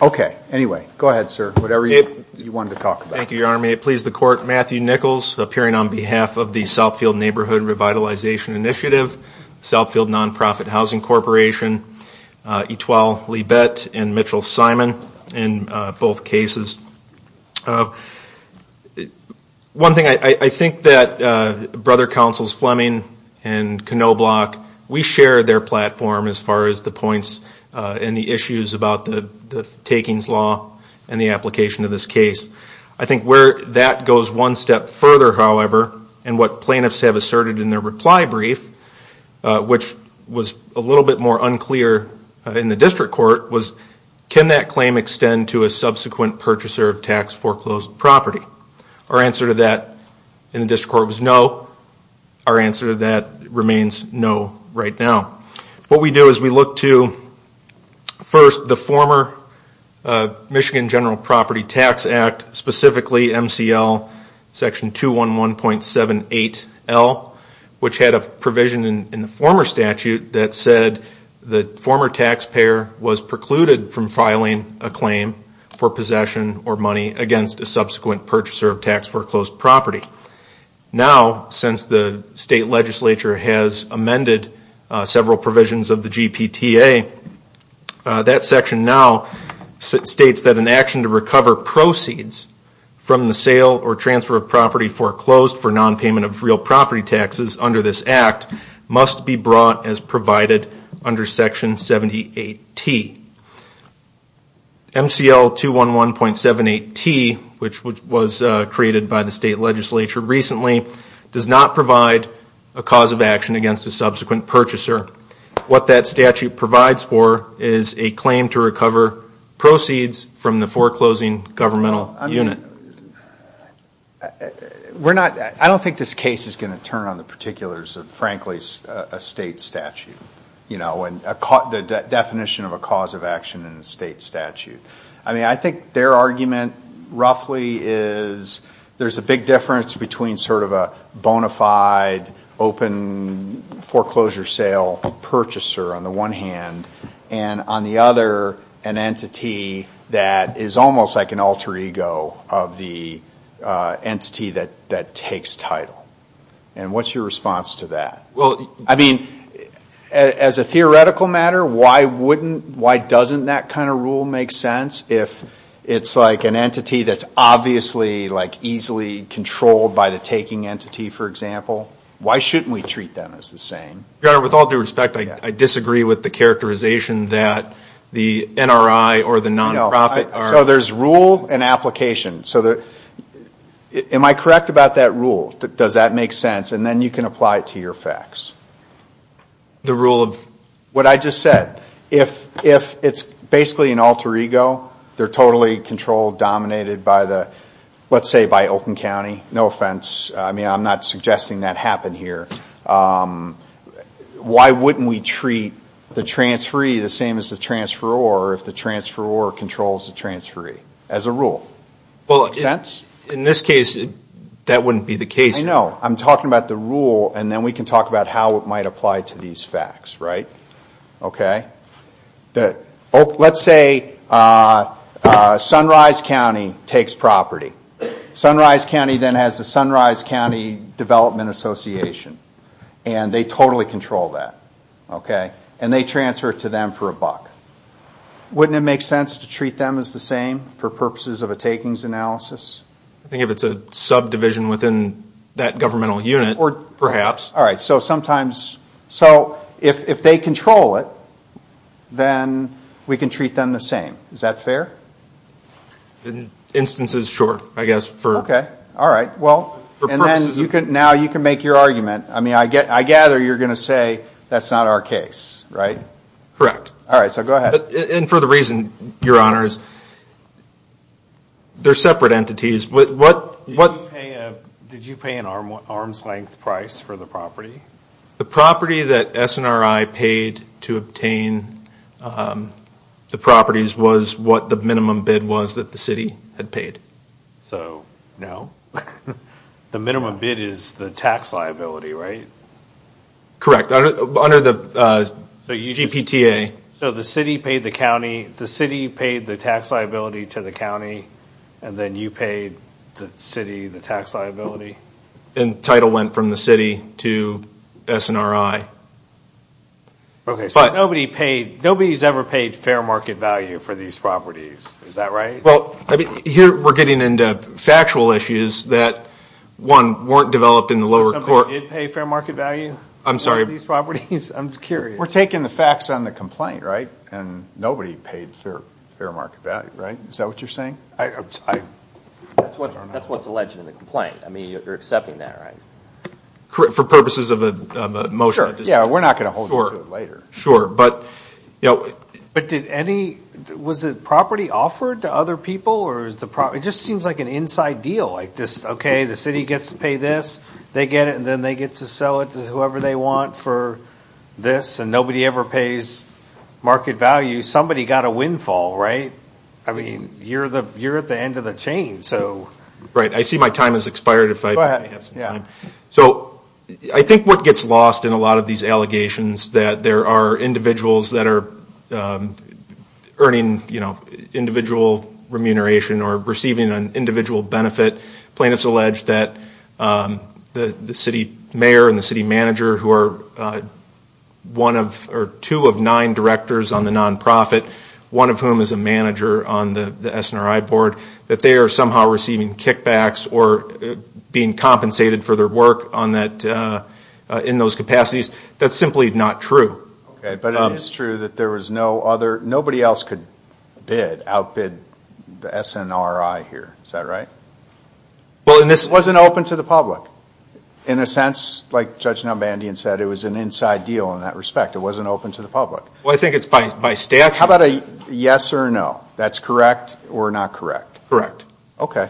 Okay. Anyway, go ahead, sir. Whatever you wanted to talk about. Thank you, Your Honor. May it please the Court, Matthew Nichols, appearing on behalf of the Southfield Neighborhood Revitalization Initiative, Southfield Nonprofit Housing Corporation, Etuel Libet and Mitchell Simon in both cases. One thing, I think that Brother Councils Fleming and Knobloch, we share their platform as far as the points and the issues about the takings law and the application of this case. I think where that goes one step further, however, and what plaintiffs have asserted in their reply brief, which was a little bit more unclear in the district court, was can that claim extend to a subsequent purchaser of tax-foreclosed property? Our answer to that in the district court was no. Our answer to that remains no right now. What we do is we look to, first, the former Michigan General Property Tax Act, specifically MCL section 211.78L, which had a provision in the former statute that said the former taxpayer was precluded from filing a claim for possession or money against a subsequent purchaser of tax-foreclosed property. Now, since the state legislature has amended several provisions of the GPTA, that section now states that an action to recover proceeds from the sale or transfer of property foreclosed for nonpayment of real property taxes under this act must be brought as provided under section 78T. MCL 211.78T, which was created by the state legislature recently, does not provide a cause of action against a subsequent purchaser. What that statute provides for is a claim to recover proceeds from the foreclosing governmental unit. I don't think this case is going to turn on the particulars of, frankly, a state statute. The definition of a cause of action in a state statute. I think their argument roughly is there's a big difference between sort of a bona fide open foreclosure sale purchaser on the one hand, and on the other, an entity that is almost like an alter ego of the entity that takes title. And what's your response to that? I mean, as a theoretical matter, why doesn't that kind of rule make sense if it's like an entity that's obviously easily controlled by the taking entity, for example? Why shouldn't we treat them as the same? Your Honor, with all due respect, I disagree with the characterization that the NRI or the nonprofit are. So there's rule and application. Am I correct about that rule? Does that make sense? And then you can apply it to your facts. The rule of? What I just said. If it's basically an alter ego, they're totally controlled, dominated by the, let's say, by Oakland County. No offense. I mean, I'm not suggesting that happened here. Why wouldn't we treat the transferee the same as the transferor if the transferor controls the transferee as a rule? Make sense? In this case, that wouldn't be the case. I know. I'm talking about the rule, and then we can talk about how it might apply to these facts, right? Okay. Let's say Sunrise County takes property. Sunrise County then has the Sunrise County Development Association, and they totally control that, okay? And they transfer it to them for a buck. Wouldn't it make sense to treat them as the same for purposes of a takings analysis? I think if it's a subdivision within that governmental unit, perhaps. All right. So if they control it, then we can treat them the same. Is that fair? In instances, sure, I guess. Okay. All right. Well, now you can make your argument. I mean, I gather you're going to say that's not our case, right? Correct. All right. So go ahead. And for the reason, Your Honors, they're separate entities. Did you pay an arm's length price for the property? The property that SNRI paid to obtain the properties was what the minimum bid was that the city had paid. So, no. The minimum bid is the tax liability, right? Correct, under the GPTA. So the city paid the county, the city paid the tax liability to the county, and then you paid the city the tax liability? And the title went from the city to SNRI. Okay. So nobody's ever paid fair market value for these properties. Is that right? Well, here we're getting into factual issues that, one, weren't developed in the lower court. Somebody did pay fair market value for these properties? I'm sorry. I'm curious. We're taking the facts on the complaint, right? And nobody paid fair market value, right? Is that what you're saying? That's what's alleged in the complaint. I mean, you're accepting that, right? For purposes of a motion. Sure. Yeah, we're not going to hold you to it later. Sure. But did any – was the property offered to other people? It just seems like an inside deal, like, okay, the city gets to pay this, they get it, and then they get to sell it to whoever they want for this, and nobody ever pays market value. Somebody got a windfall, right? I mean, you're at the end of the chain. Right. I see my time has expired if I have some time. Go ahead. Yeah. So I think what gets lost in a lot of these allegations that there are individuals that are earning individual remuneration or receiving an individual benefit. Plaintiffs allege that the city mayor and the city manager, who are two of nine directors on the nonprofit, one of whom is a manager on the SNRI board, that they are somehow receiving kickbacks or being compensated for their work in those capacities. That's simply not true. Okay, but it is true that there was no other – nobody else could bid, outbid the SNRI here. Is that right? It wasn't open to the public. In a sense, like Judge Numbandian said, it was an inside deal in that respect. It wasn't open to the public. Well, I think it's by statute. How about a yes or no? That's correct or not correct? Correct. Okay.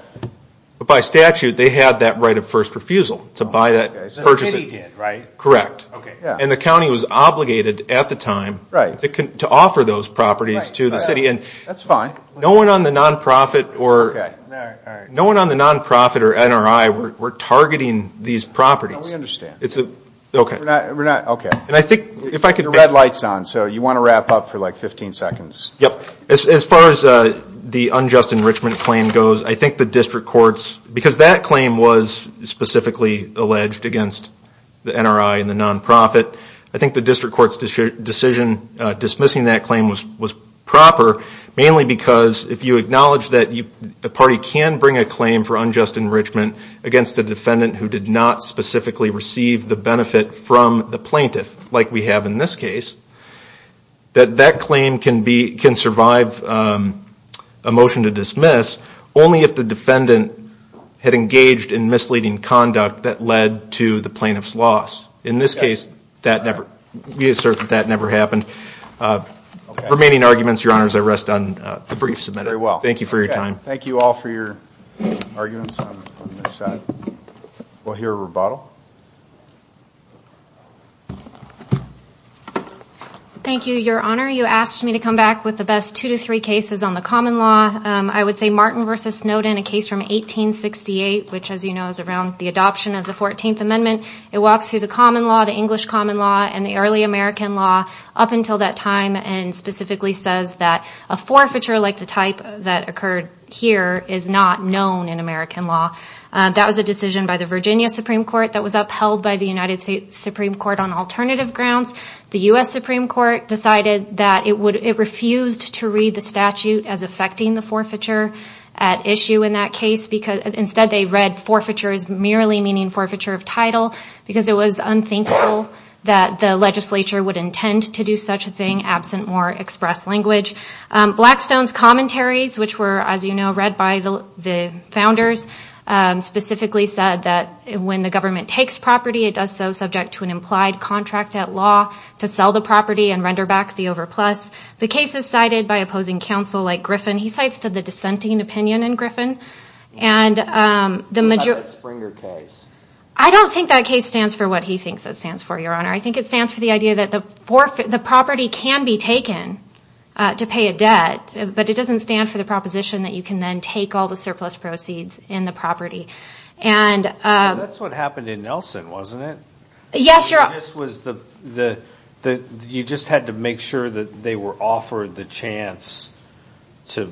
But by statute, they had that right of first refusal to buy that purchase. The city did, right? Correct. And the county was obligated at the time to offer those properties to the city. That's fine. No one on the nonprofit or – Okay, all right. No one on the nonprofit or NRI were targeting these properties. We understand. Okay. We're not – okay. And I think if I could – Your red light's on, so you want to wrap up for like 15 seconds. Yep. As far as the unjust enrichment claim goes, I think the district court's – because that claim was specifically alleged against the NRI and the nonprofit, I think the district court's decision dismissing that claim was proper, mainly because if you acknowledge that the party can bring a claim for unjust enrichment against a defendant who did not specifically receive the benefit from the plaintiff, like we have in this case, that that claim can survive a motion to dismiss only if the defendant had engaged in misleading conduct that led to the plaintiff's loss. In this case, that never – we assert that that never happened. Remaining arguments, Your Honors, I rest on the briefs. Very well. Thank you for your time. Thank you all for your arguments on this side. We'll hear a rebuttal. Thank you, Your Honor. You asked me to come back with the best two to three cases on the common law. I would say Martin v. Snowden, a case from 1868, which, as you know, is around the adoption of the 14th Amendment. It walks through the common law, the English common law, and the early American law. Up until that time, and specifically says that a forfeiture like the type that occurred here is not known in American law. That was a decision by the Virginia Supreme Court that was upheld by the United States Supreme Court on alternative grounds. The U.S. Supreme Court decided that it refused to read the statute as affecting the forfeiture at issue in that case. Instead, they read forfeiture as merely meaning forfeiture of title because it was unthinkable that the legislature would intend to do such a thing absent more express language. Blackstone's commentaries, which were, as you know, read by the founders, specifically said that when the government takes property, it does so subject to an implied contract at law to sell the property and render back the overplus. The case is cited by opposing counsel like Griffin. He cites to the dissenting opinion in Griffin. And the majority... My case stands for what he thinks it stands for, Your Honor. I think it stands for the idea that the property can be taken to pay a debt, but it doesn't stand for the proposition that you can then take all the surplus proceeds in the property. That's what happened in Nelson, wasn't it? Yes, Your Honor. You just had to make sure that they were offered the chance to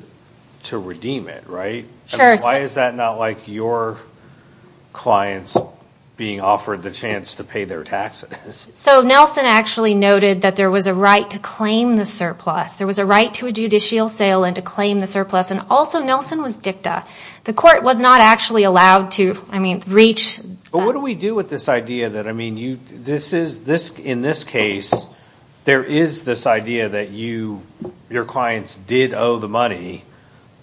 redeem it, right? Why is that not like your clients being offered the chance to pay their taxes? Nelson actually noted that there was a right to claim the surplus. There was a right to a judicial sale and to claim the surplus. Also, Nelson was dicta. The court was not actually allowed to reach... What do we do with this idea that, in this case, there is this idea that your clients did owe the money.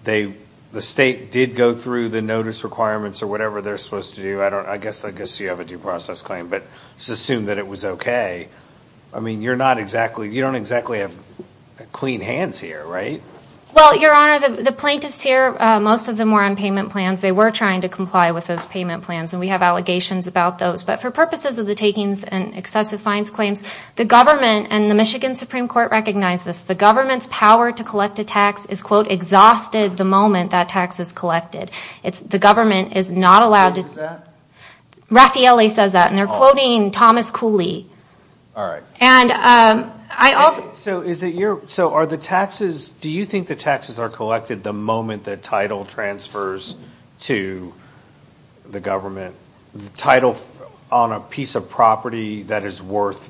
The state did go through the notice requirements or whatever they're supposed to do. I guess you have a due process claim, but just assume that it was okay. I mean, you're not exactly... You don't exactly have clean hands here, right? Well, Your Honor, the plaintiffs here, most of them were on payment plans. They were trying to comply with those payment plans, and we have allegations about those. But for purposes of the takings and excessive fines claims, the government and the Michigan Supreme Court recognize this. The government's power to collect a tax is, quote, exhausted the moment that tax is collected. The government is not allowed to... Who says that? Raffaelli says that, and they're quoting Thomas Cooley. All right. And I also... So are the taxes... Do you think the taxes are collected the moment the title transfers to the government? The title on a piece of property that is worth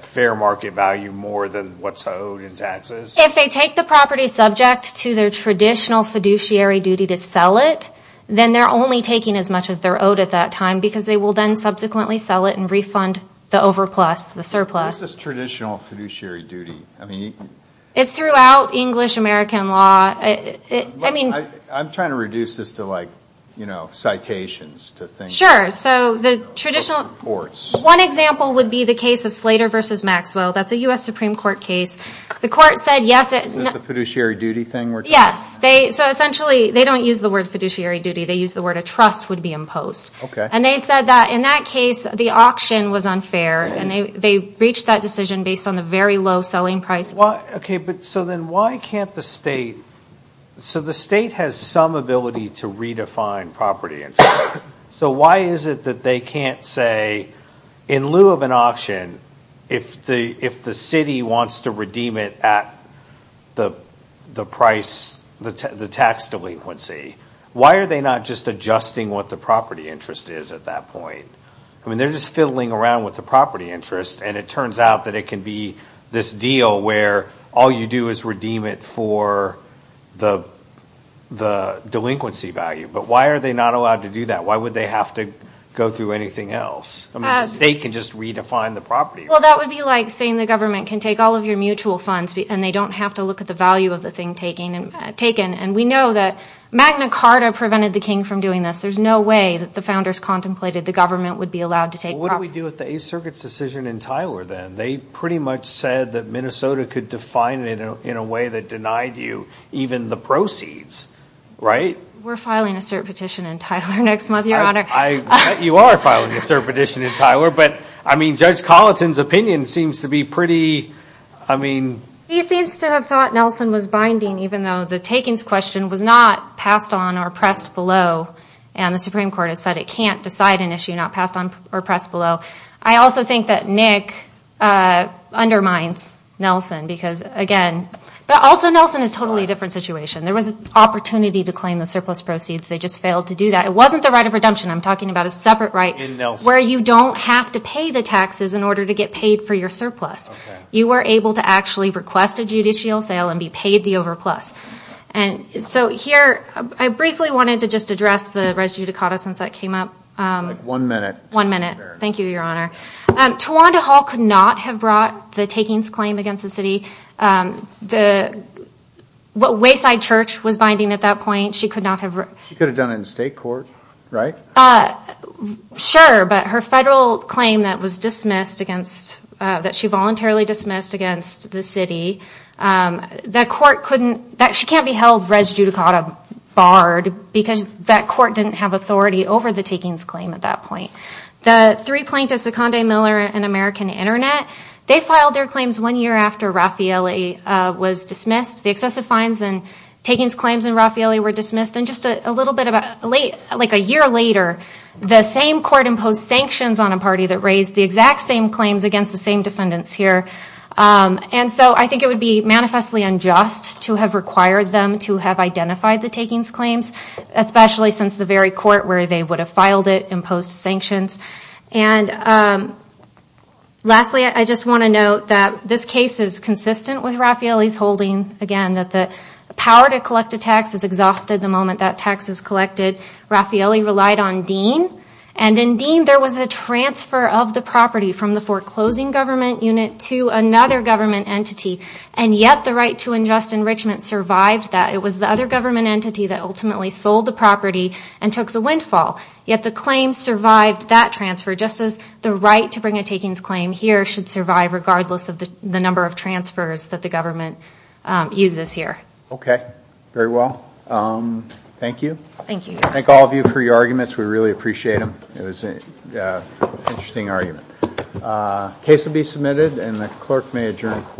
fair market value more than what's owed in taxes? If they take the property subject to their traditional fiduciary duty to sell it, then they're only taking as much as they're owed at that time, because they will then subsequently sell it and refund the overplus, the surplus. What is this traditional fiduciary duty? I mean... It's throughout English-American law. I'm trying to reduce this to, like, you know, citations. Sure. So the traditional... Reports. One example would be the case of Slater v. Maxwell. That's a U.S. Supreme Court case. The court said yes... Is this the fiduciary duty thing we're talking about? Yes. So essentially they don't use the word fiduciary duty. They use the word a trust would be imposed. Okay. And they said that in that case the auction was unfair, and they breached that decision based on the very low selling price. Okay, but so then why can't the state... So the state has some ability to redefine property interest. So why is it that they can't say, in lieu of an auction, if the city wants to redeem it at the price, the tax delinquency, why are they not just adjusting what the property interest is at that point? I mean, they're just fiddling around with the property interest, and it turns out that it can be this deal where all you do is redeem it for the delinquency value. But why are they not allowed to do that? Why would they have to go through anything else? I mean, the state can just redefine the property. Well, that would be like saying the government can take all of your mutual funds and they don't have to look at the value of the thing taken. And we know that Magna Carta prevented the king from doing this. There's no way that the founders contemplated the government would be allowed to take property. Well, what do we do with the Eighth Circuit's decision in Tyler, then? They pretty much said that Minnesota could define it in a way that denied you even the proceeds, right? We're filing a cert petition in Tyler next month, Your Honor. You are filing a cert petition in Tyler, but, I mean, Judge Colleton's opinion seems to be pretty, I mean. He seems to have thought Nelson was binding, even though the takings question was not passed on or pressed below, and the Supreme Court has said it can't decide an issue not passed on or pressed below. I also think that Nick undermines Nelson because, again. But also, Nelson is a totally different situation. There was an opportunity to claim the surplus proceeds. They just failed to do that. It wasn't the right of redemption. I'm talking about a separate right where you don't have to pay the taxes in order to get paid for your surplus. You were able to actually request a judicial sale and be paid the overplus. So here, I briefly wanted to just address the res judicata since that came up. One minute. One minute. Thank you, Your Honor. Tawanda Hall could not have brought the takings claim against the city. The Wayside Church was binding at that point. She could not have. She could have done it in state court, right? Sure, but her federal claim that was dismissed against, that she voluntarily dismissed against the city, that court couldn't, that she can't be held res judicata barred because that court didn't have authority over the takings claim at that point. The three plaintiffs, Seconde, Miller, and American Internet, they filed their claims one year after Raffaele was dismissed. The excessive fines and takings claims in Raffaele were dismissed. And just a little bit, like a year later, the same court imposed sanctions on a party that raised the exact same claims against the same defendants here. And so I think it would be manifestly unjust to have required them to have identified the takings claims, especially since the very court where they would have filed it imposed sanctions. And lastly, I just want to note that this case is consistent with Raffaele's holding, again, that the power to collect a tax is exhausted the moment that tax is collected. Raffaele relied on Dean. And in Dean there was a transfer of the property from the foreclosing government unit to another government entity. And yet the right to unjust enrichment survived that. It was the other government entity that ultimately sold the property and took the windfall. Yet the claim survived that transfer just as the right to bring a takings claim here should survive regardless of the number of transfers that the government uses here. Okay. Very well. Thank you. Thank you. Thank all of you for your arguments. We really appreciate them. It was an interesting argument. The case will be submitted and the clerk may adjourn the court.